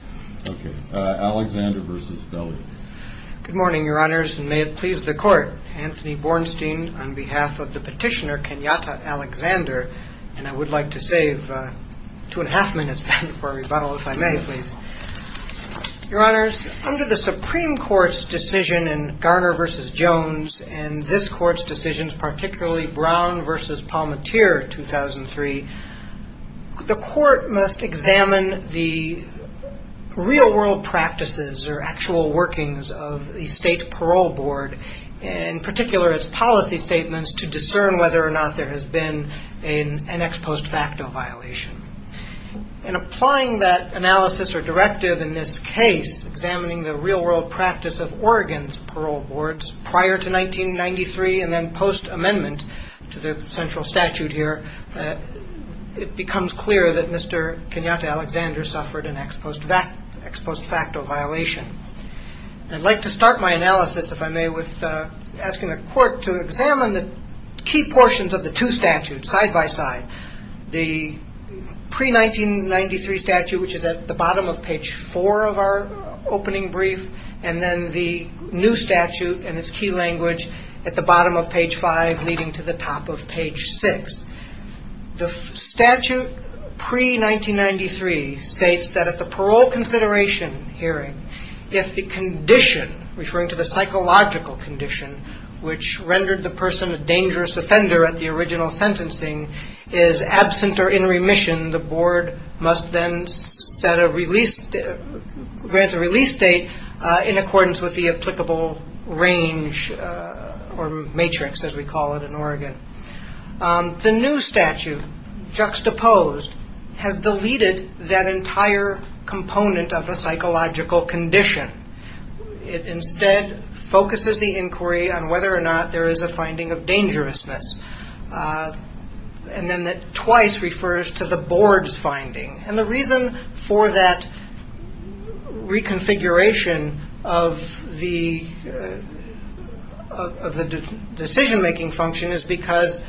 Good morning, Your Honors, and may it please the Court. Anthony Bornstein on behalf of the petitioner Kenyatta Alexander, and I would like to save two and a half minutes then for a rebuttal, if I may, please. Your Honors, under the Supreme Court's decision in Garner v. Jones, and this Court's decisions, particularly Brown v. Palmateer, 2003, the Court must examine the real-world practices or actual workings of the State Parole Board, in particular its policy statements, to discern whether or not there has been an ex post facto violation. In applying that analysis or directive in this case, examining the real-world practice of Oregon's parole boards prior to 1993 and then post amendment to the central statute here, it becomes clear that Mr. Kenyatta Alexander suffered an ex post facto violation. I'd like to start my analysis, if I may, with asking the Court to examine the key portions of the two statutes side by side. The pre-1993 statute, which is at the bottom of page 4 of our opening brief, and then the new statute in its key language at the bottom of page 5 leading to the top of page 6. The statute pre-1993 states that at the parole consideration hearing, if the condition, referring to the psychological condition, which rendered the person a dangerous offender at the original sentencing is absent or in remission, the board must then grant a release date in accordance with the applicable range or matrix, as we call it in Oregon. The new statute, juxtaposed, has deleted that entire component of a psychological condition. It instead focuses the inquiry on whether or not there is a finding of dangerousness. The reason for that reconfiguration of the decision-making function is because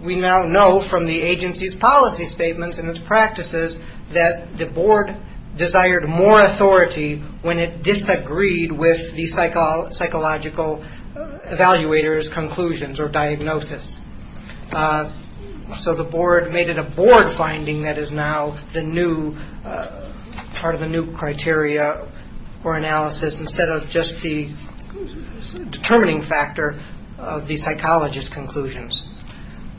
we now know from the agency's policy statements and its practices that the board desired more authority when it disagreed with the psychological evaluator's conclusions or diagnosis. So the board made it a board finding that is now part of a new criteria or analysis instead of just the determining factor of the psychologist's conclusions.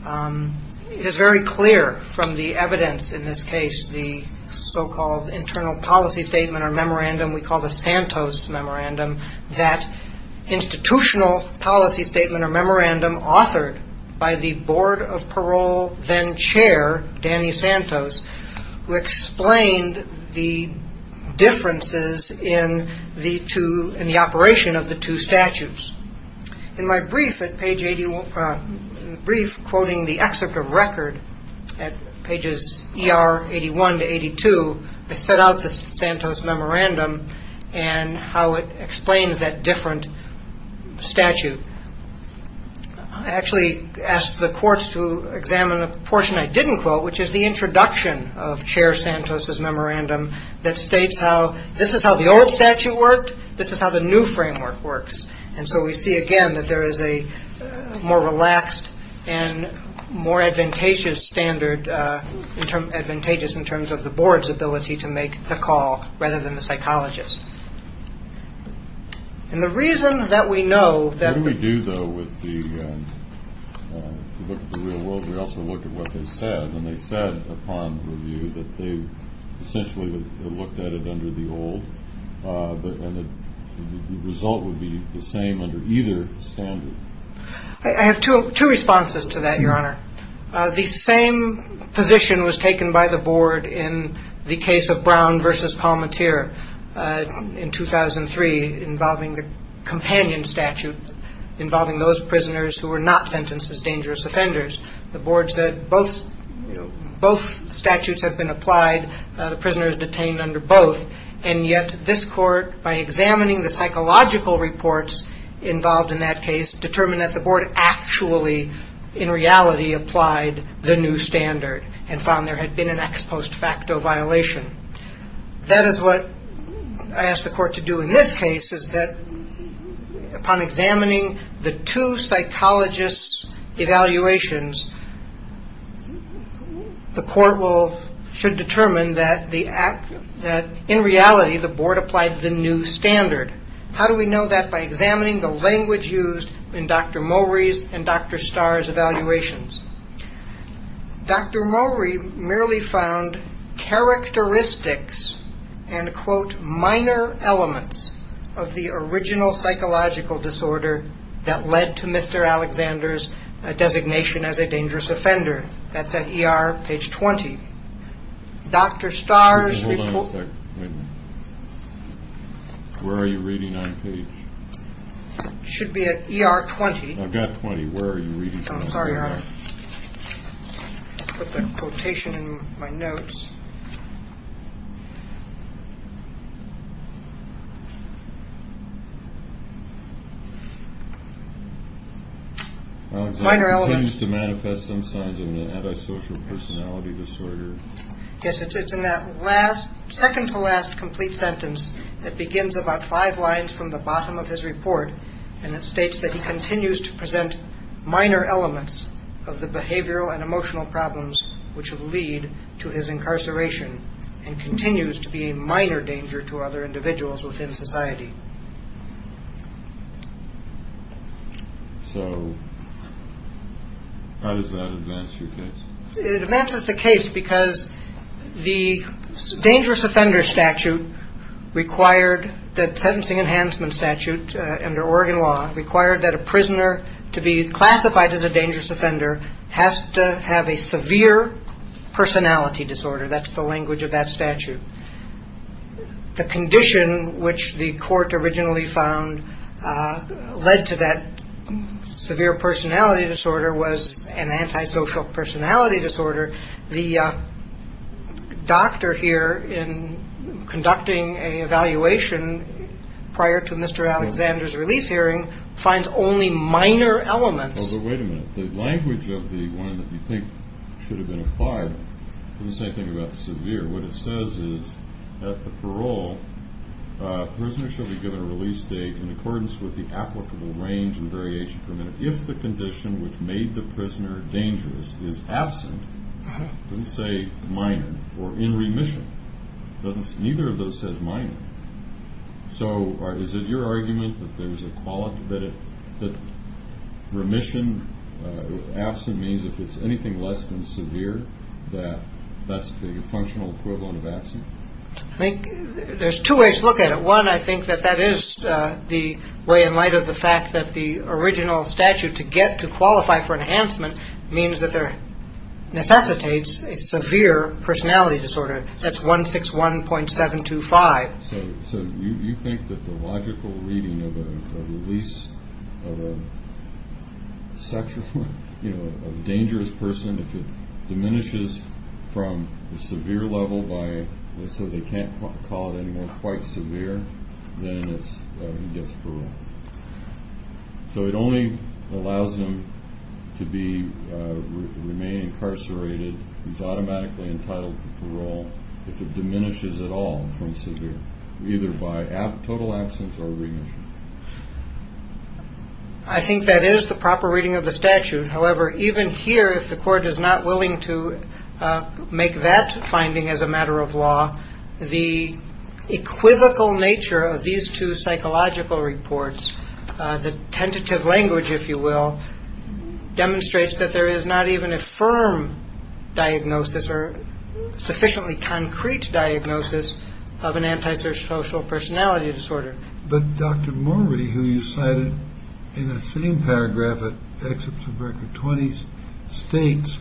It is very clear from the evidence in this case, the so-called internal policy statement or memorandum we call the Santos Memorandum, that institutional policy statement or memorandum authored by the board of parole then-chair, Danny Santos, who explained the differences in the operation of the two statutes. In my brief quoting the excerpt of record at pages ER 81 to 82, I set out the Santos Memorandum and how it explains that different statute. I actually asked the courts to examine a portion I didn't quote, which is the introduction of Chair Santos's memorandum that states how this is how the old statute worked, this is how the new framework works. And so we see again that there is a more relaxed and more advantageous standard, advantageous in terms of the board's ability to make the call rather than the psychologist. I have two responses to that, Your Honor. The same position was taken by the board in the case of Brown v. Palmateer in 2003 involving the companion statute, involving those prisoners who were not sentenced as dangerous offenders. The board said both statutes have been applied, the prisoners detained under both, and yet this court, by examining the psychological reports involved in that case, determined that the board actually, in reality, applied the new standard and found there had been an ex post facto violation. That is what I asked the court to do in this case, is that upon examining the two psychologists' evaluations, the court should determine that in reality the board applied the new standard. How do we know that? By examining the language used in Dr. Mowry's and Dr. Starr's evaluations. Dr. Mowry merely found characteristics and, quote, minor elements of the original psychological disorder that led to Mr. Alexander's designation as a dangerous offender. That's at ER, page 20. Dr. Starr's report… Yes, it's in that last, second-to-last complete sentence that begins about five lines from the bottom of his report, and it states that he continues to present minor elements of the behavioral and emotional problems which would lead to his incarceration and continues to be a minor danger to other individuals within society. So how does that advance your case? It advances the case because the dangerous offender statute required that sentencing enhancement statute under Oregon law required that a prisoner to be classified as a dangerous offender has to have a severe personality disorder. That's the language of that statute. The condition which the court originally found led to that severe personality disorder was an antisocial personality disorder. The doctor here, in conducting an evaluation prior to Mr. Alexander's release hearing, finds only minor elements… It doesn't say anything about severe. What it says is, at the parole, prisoners shall be given a release date in accordance with the applicable range and variation permitted if the condition which made the prisoner dangerous is absent. It doesn't say minor or in remission. Neither of those says minor. So is it your argument that remission with absent means if it's anything less than severe that that's the functional equivalent of absent? There's two ways to look at it. One, I think that that is the way in light of the fact that the original statute to get to qualify for enhancement means that there necessitates a severe personality disorder. That's 161.725. So you think that the logical reading of a release of a dangerous person, if it diminishes from the severe level, so they can't call it anymore quite severe, then he gets parole. So it only allows him to remain incarcerated. He's automatically entitled to parole if it diminishes at all from severe, either by total absence or remission. I think that is the proper reading of the statute. However, even here, if the court is not willing to make that finding as a matter of law, the equivocal nature of these two psychological reports, the tentative language, if you will, demonstrates that there is not even a firm diagnosis or sufficiently concrete diagnosis of an antisocial personality disorder. But Dr. Murray, who you cited in that same paragraph at Excerpts of Record 20, states,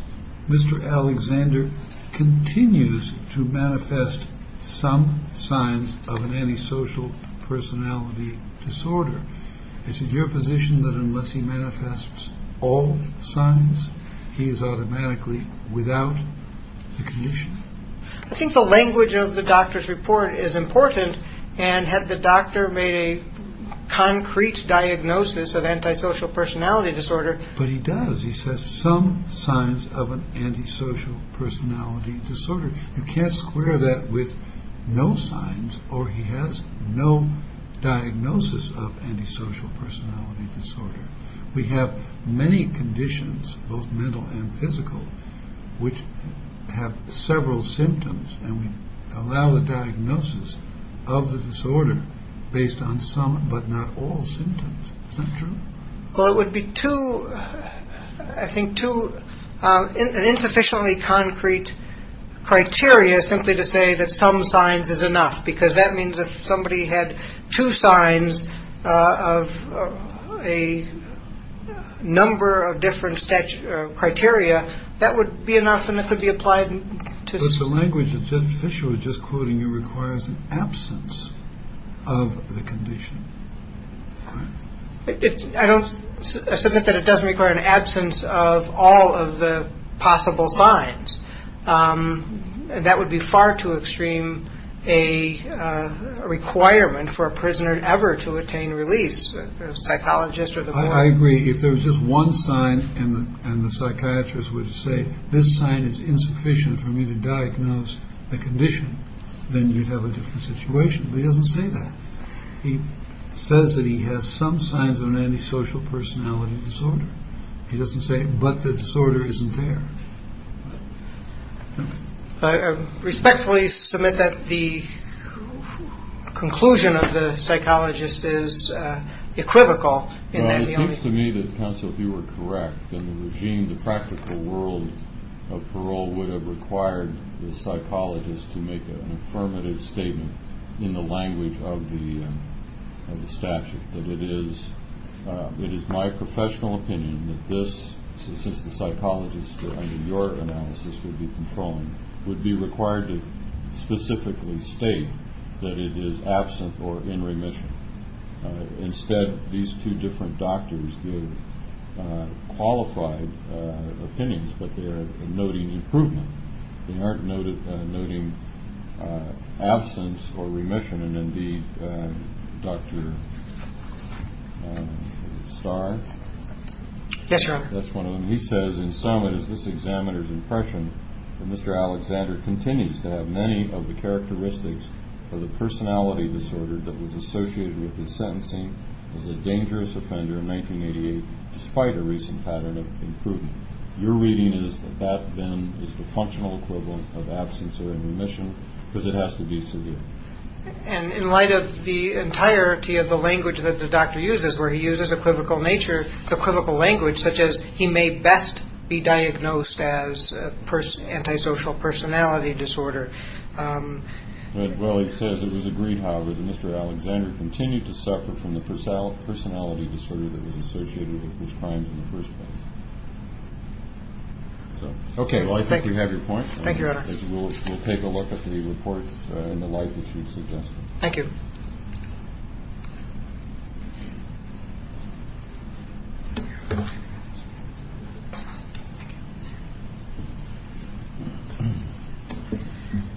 Mr. Alexander continues to manifest some signs of an antisocial personality disorder. Is it your position that unless he manifests all signs, he is automatically without the condition? I think the language of the doctor's report is important. And had the doctor made a concrete diagnosis of antisocial personality disorder. But he does. He says some signs of an antisocial personality disorder. You can't square that with no signs or he has no diagnosis of antisocial personality disorder. We have many conditions, both mental and physical, which have several symptoms and we allow the diagnosis of the disorder based on some but not all symptoms. Well, it would be too, I think, too insufficiently concrete criteria simply to say that some signs is enough, because that means if somebody had two signs of a number of different criteria, that would be enough. But the language that Judge Fischer was just quoting requires an absence of the condition. I don't submit that it doesn't require an absence of all of the possible signs. That would be far too extreme a requirement for a prisoner ever to attain release, a psychologist or the board. I agree. If there was just one sign and the psychiatrist would say this sign is insufficient for me to diagnose the condition, then you'd have a different situation. He doesn't say that. He says that he has some signs of an antisocial personality disorder. He doesn't say. But the disorder isn't there. Respectfully submit that the conclusion of the psychologist is equivocal. It seems to me that counsel, if you were correct in the regime, the practical world of parole would have required the psychologist to make an affirmative statement in the language of the statute. It is my professional opinion that this, since the psychologist under your analysis would be controlling, would be required to specifically state that it is absent or in remission. Instead, these two different doctors give qualified opinions, but they're noting improvement. They aren't noting absence or remission. And indeed, Dr. Starr. Yes, Your Honor. That's one of them. He says, in sum, it is this examiner's impression that Mr. Alexander continues to have many of the characteristics of the personality disorder that was associated with his sentencing as a dangerous offender in 1988, despite a recent pattern of improvement. Your reading is that that then is the functional equivalent of absence or remission because it has to be severe. And in light of the entirety of the language that the doctor uses, where he uses equivocal nature, it's equivocal language such as he may best be diagnosed as antisocial personality disorder. Well, he says it was agreed, however, that Mr. Alexander continued to suffer from the personality disorder that was associated with his crimes in the first place. OK, well, I think you have your point. Thank you, Your Honor. We'll take a look at the reports in the light that you've suggested. Thank you.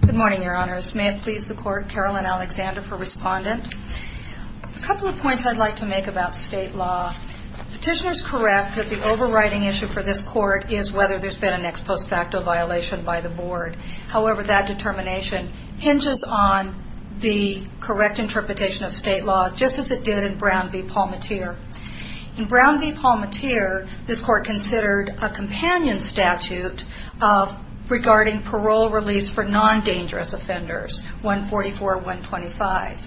Good morning, Your Honors. May it please the Court, Carolyn Alexander for Respondent. A couple of points I'd like to make about state law. Petitioners correct that the overriding issue for this Court is whether there's been an ex post facto violation by the Board. However, that determination hinges on the correct interpretation of state law, just as it did in Brown v. Palmatier. In Brown v. Palmatier, this Court considered a companion statute regarding parole release for non-dangerous offenders, 144-125.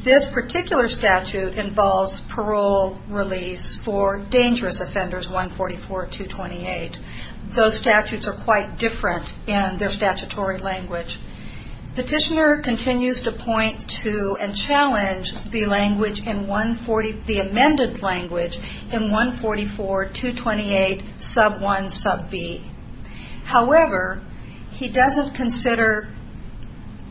This particular statute involves parole release for dangerous offenders, 144-228. Those statutes are quite different in their statutory language. Petitioner continues to point to and challenge the amended language in 144-228, sub 1, sub b. However, he doesn't consider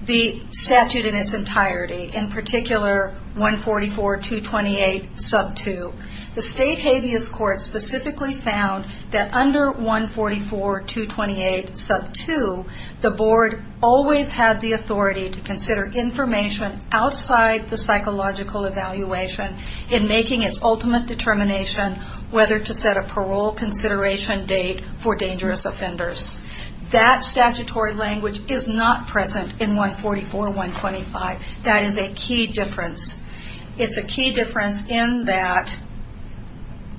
the statute in its entirety, in particular, 144-228, sub 2. The State Habeas Court specifically found that under 144-228, sub 2, the Board always had the authority to consider information outside the psychological evaluation in making its ultimate determination whether to set a parole consideration date for dangerous offenders. That statutory language is not present in 144-125. That is a key difference. It's a key difference in that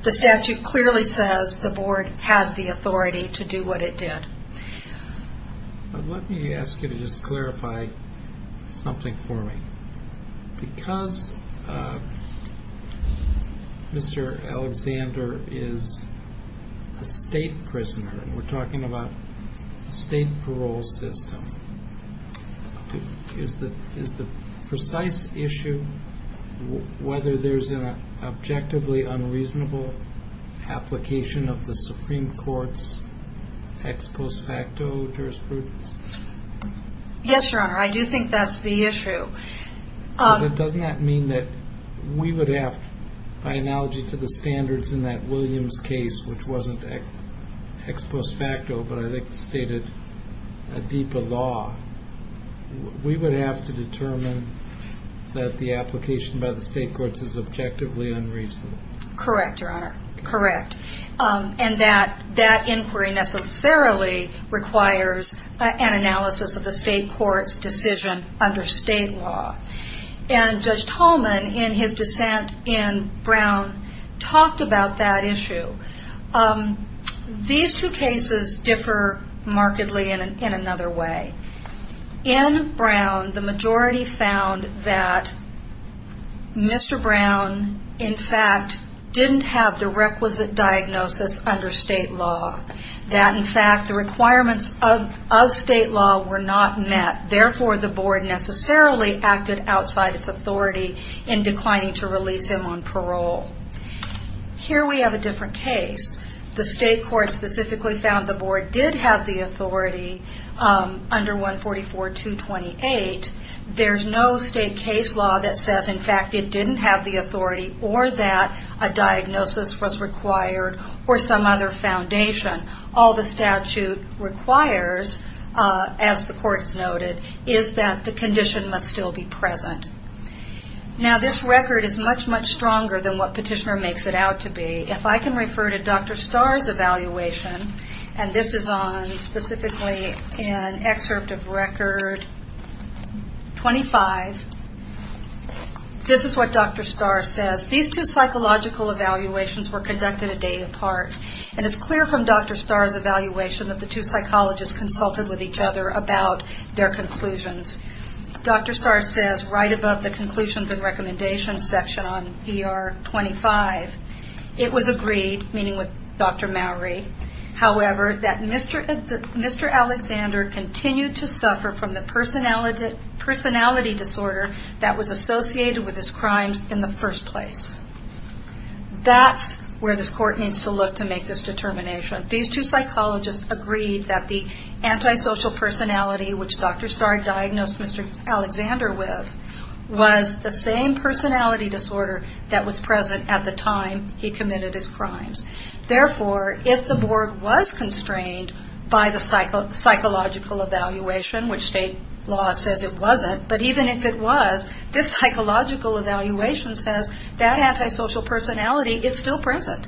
the statute clearly says the Board had the authority to do what it did. Let me ask you to just clarify something for me. Because Mr. Alexander is a state prisoner, and we're talking about a state parole system, is the precise issue whether there's an objectively unreasonable application of the Supreme Court's ex post facto jurisprudence? Yes, Your Honor, I do think that's the issue. But doesn't that mean that we would have, by analogy to the standards in that Williams case, which wasn't ex post facto, but I think stated a deeper law, we would have to determine that the application by the state courts is objectively unreasonable? Correct, Your Honor, correct. And that inquiry necessarily requires an analysis of the state court's decision under state law. And Judge Tolman, in his dissent in Brown, talked about that issue. These two cases differ markedly in another way. In Brown, the majority found that Mr. Brown, in fact, didn't have the requisite diagnosis under state law. That, in fact, the requirements of state law were not met. Therefore, the board necessarily acted outside its authority in declining to release him on parole. Here we have a different case. The state court specifically found the board did have the authority under 144.228. There's no state case law that says, in fact, it didn't have the authority, or that a diagnosis was required, or some other foundation. All the statute requires, as the courts noted, is that the condition must still be present. Now, this record is much, much stronger than what Petitioner makes it out to be. If I can refer to Dr. Starr's evaluation, and this is on specifically an excerpt of Record 25, this is what Dr. Starr says. These two psychological evaluations were conducted a day apart, and it's clear from Dr. Starr's evaluation that the two psychologists consulted with each other about their conclusions. Dr. Starr says, right above the conclusions and recommendations section on ER 25, it was agreed, meaning with Dr. Mowry, however, that Mr. Alexander continued to suffer from the personality disorder that was associated with his crimes in the first place. That's where this court needs to look to make this determination. These two psychologists agreed that the antisocial personality, which Dr. Starr diagnosed Mr. Alexander with, was the same personality disorder that was present at the time he committed his crimes. Therefore, if the board was constrained by the psychological evaluation, which state law says it wasn't, but even if it was, this psychological evaluation says that antisocial personality is still present.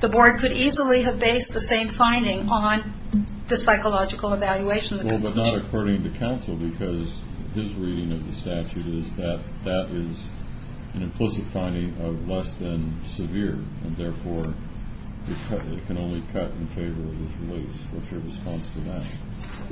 The board could easily have based the same finding on the psychological evaluation. Well, but not according to counsel, because his reading of the statute is that that is an implicit finding of less than severe, and therefore it can only cut in favor of his release. What's your response to that?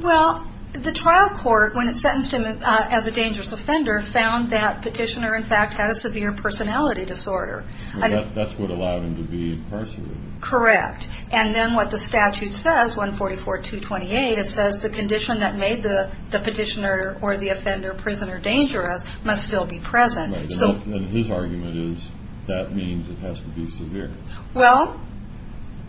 Well, the trial court, when it sentenced him as a dangerous offender, found that Petitioner, in fact, had a severe personality disorder. That's what allowed him to be incarcerated. Correct. And then what the statute says, 144-228, it says the condition that made the Petitioner or the offender prisoner dangerous must still be present. And his argument is that means it has to be severe. Well,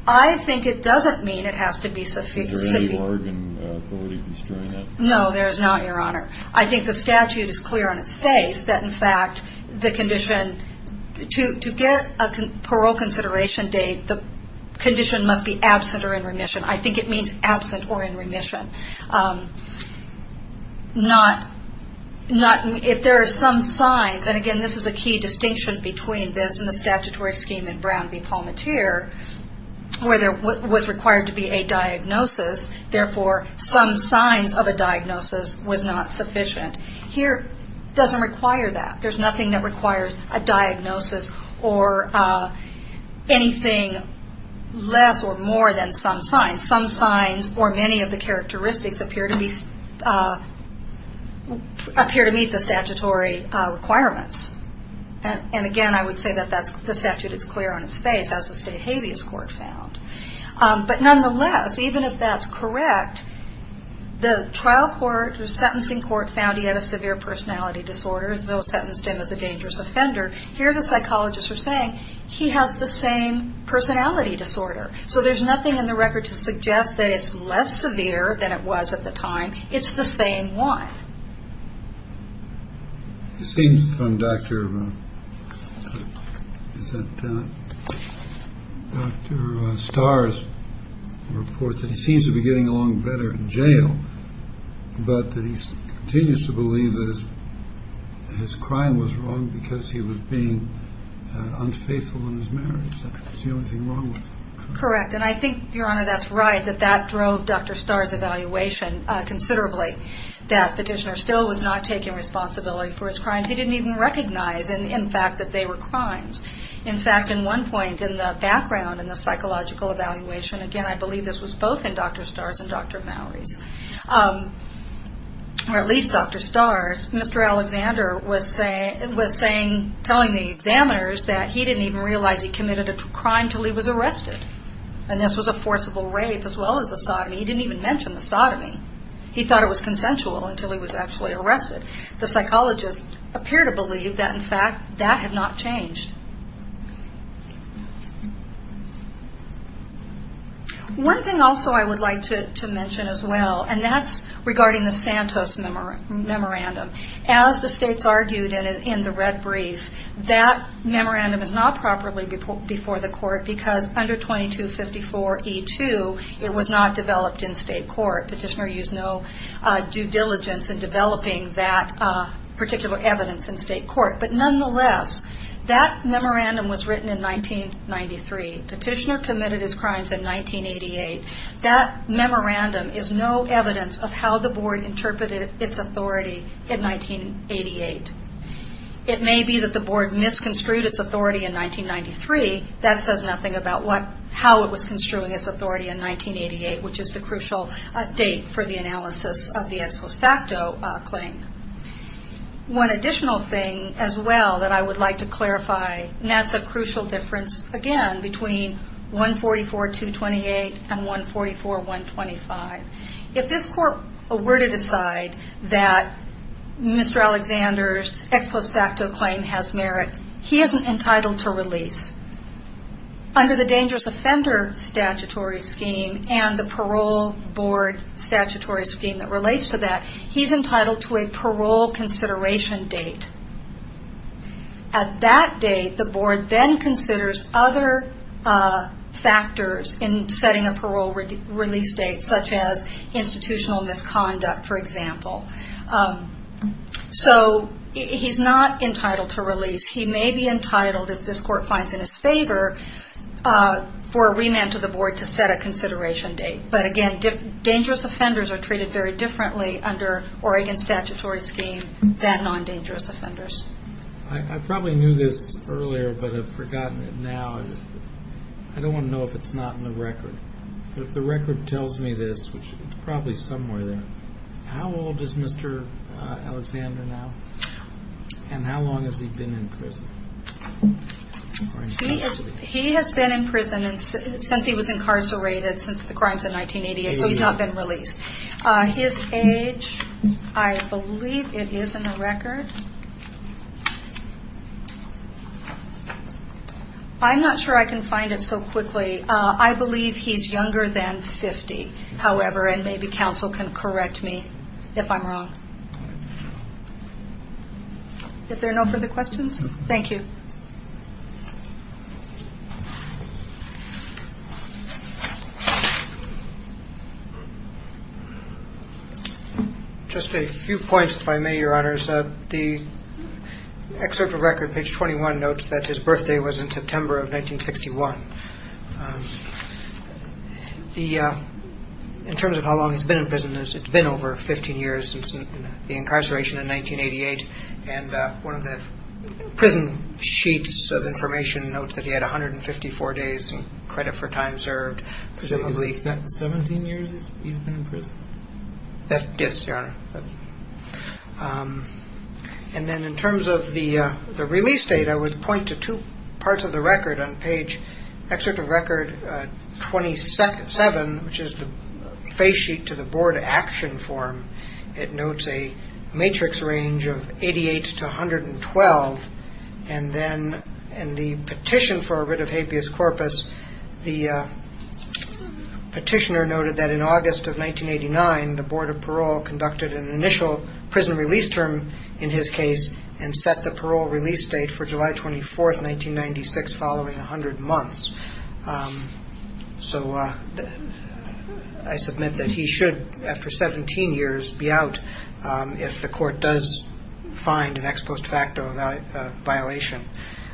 I think it doesn't mean it has to be severe. Is there any Oregon authority constraining that? No, there is not, Your Honor. I think the statute is clear on its face that, in fact, the condition, to get a parole consideration date, the condition must be absent or in remission. I think it means absent or in remission. If there are some signs, and, again, this is a key distinction between this and the statutory scheme in Brown v. Palmateer, where there was required to be a diagnosis, therefore some signs of a diagnosis was not sufficient. Here, it doesn't require that. There's nothing that requires a diagnosis or anything less or more than some signs. And some signs or many of the characteristics appear to meet the statutory requirements. And, again, I would say that the statute is clear on its face, as the state habeas court found. But, nonetheless, even if that's correct, the trial court, the sentencing court, found he had a severe personality disorder, so sentenced him as a dangerous offender. Here, the psychologists are saying he has the same personality disorder. So there's nothing in the record to suggest that it's less severe than it was at the time. It's the same one. It seems from Dr. Starr's report that he seems to be getting along better in jail, but that he continues to believe that his crime was wrong because he was being unfaithful in his marriage. Correct. And I think, Your Honor, that's right, that that drove Dr. Starr's evaluation considerably, that Petitioner still was not taking responsibility for his crimes. He didn't even recognize, in fact, that they were crimes. In fact, in one point, in the background, in the psychological evaluation, again, I believe this was both in Dr. Starr's and Dr. Mowery's, or at least Dr. Starr's, Mr. Alexander was saying, telling the examiners that he didn't even realize he committed a crime until he was arrested. And this was a forcible rape as well as a sodomy. He didn't even mention the sodomy. He thought it was consensual until he was actually arrested. The psychologists appear to believe that, in fact, that had not changed. One thing also I would like to mention as well, and that's regarding the Santos Memorandum. As the states argued in the red brief, that memorandum is not properly before the court because under 2254E2, it was not developed in state court. Petitioner used no due diligence in developing that particular evidence in state court. But nonetheless, that memorandum was written in 1993. Petitioner committed his crimes in 1988. That memorandum is no evidence of how the board interpreted its authority in 1988. It may be that the board misconstrued its authority in 1993. That says nothing about how it was construing its authority in 1988, which is the crucial date for the analysis of the ex post facto claim. One additional thing as well that I would like to clarify, and that's a crucial difference again between 144.228 and 144.125. If this court were to decide that Mr. Alexander's ex post facto claim has merit, he isn't entitled to release. Under the dangerous offender statutory scheme and the parole board statutory scheme that relates to that, he's entitled to a parole consideration date. At that date, the board then considers other factors in setting a parole release date, such as institutional misconduct, for example. So he's not entitled to release. He may be entitled, if this court finds in his favor, for a remand to the board to set a consideration date. But again, dangerous offenders are treated very differently under Oregon's statutory scheme than non-dangerous offenders. I probably knew this earlier, but I've forgotten it now. I don't want to know if it's not in the record. But if the record tells me this, which it's probably somewhere there, how old is Mr. Alexander now, and how long has he been in prison? He has been in prison since he was incarcerated since the crimes in 1988, so he's not been released. His age, I believe it is in the record. I'm not sure I can find it so quickly. I believe he's younger than 50, however, and maybe counsel can correct me if I'm wrong. If there are no further questions, thank you. Just a few points if I may, Your Honors. The excerpt of record, page 21, notes that his birthday was in September of 1961. In terms of how long he's been in prison, it's been over 15 years since the incarceration in 1988, and one of the prison sheets of information notes that he had 154 days in credit for time served. 17 years he's been in prison? Yes, Your Honor. And then in terms of the release date, I would point to two parts of the record on page, Excerpt of record 27, which is the face sheet to the board action form, it notes a matrix range of 88 to 112, and then in the petition for a writ of habeas corpus, the petitioner noted that in August of 1989, the Board of Parole conducted an initial prison release term in his case and set the parole release date for July 24, 1996, following 100 months. So I submit that he should, after 17 years, be out if the court does find an ex post facto violation.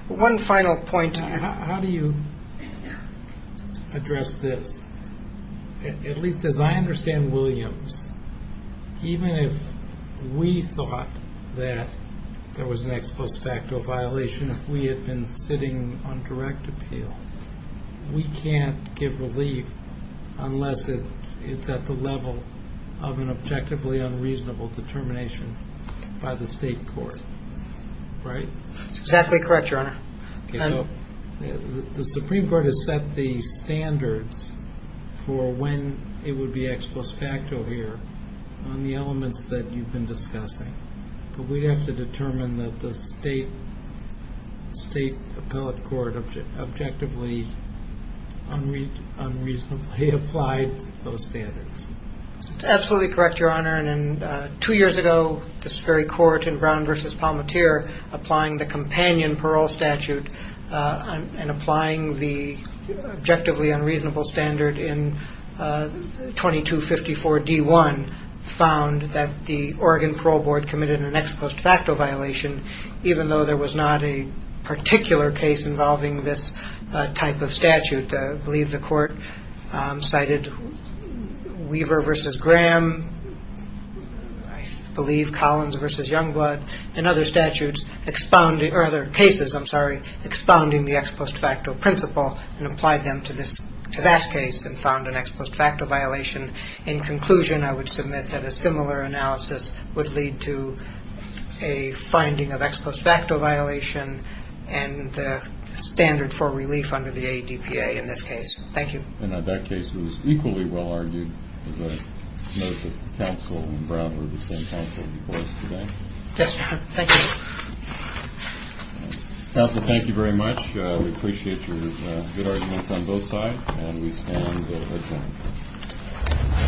One final point. How do you address this? At least as I understand Williams, even if we thought that there was an ex post facto violation, if we had been sitting on direct appeal, we can't give relief unless it's at the level of an objectively unreasonable determination by the state court, right? The Supreme Court has set the standards for when it would be ex post facto here on the elements that you've been discussing, but we'd have to determine that the state appellate court objectively unreasonably applied those standards. That's absolutely correct, Your Honor. Two years ago, this very court in Brown v. Palmatier applying the companion parole statute and applying the objectively unreasonable standard in 2254 D1 found that the Oregon Parole Board committed an ex post facto violation, even though there was not a particular case involving this type of statute. I believe the court cited Weaver v. Graham, I believe Collins v. Youngblood, and other cases expounding the ex post facto principle and applied them to that case and found an ex post facto violation. In conclusion, I would submit that a similar analysis would lead to a finding of ex post facto violation and standard for relief under the ADPA in this case. Thank you. And that case was equally well argued. As I noted, the counsel in Brown were the same counsel before us today. Yes, Your Honor. Thank you. Counsel, thank you very much. We appreciate your good arguments on both sides, and we stand adjourned.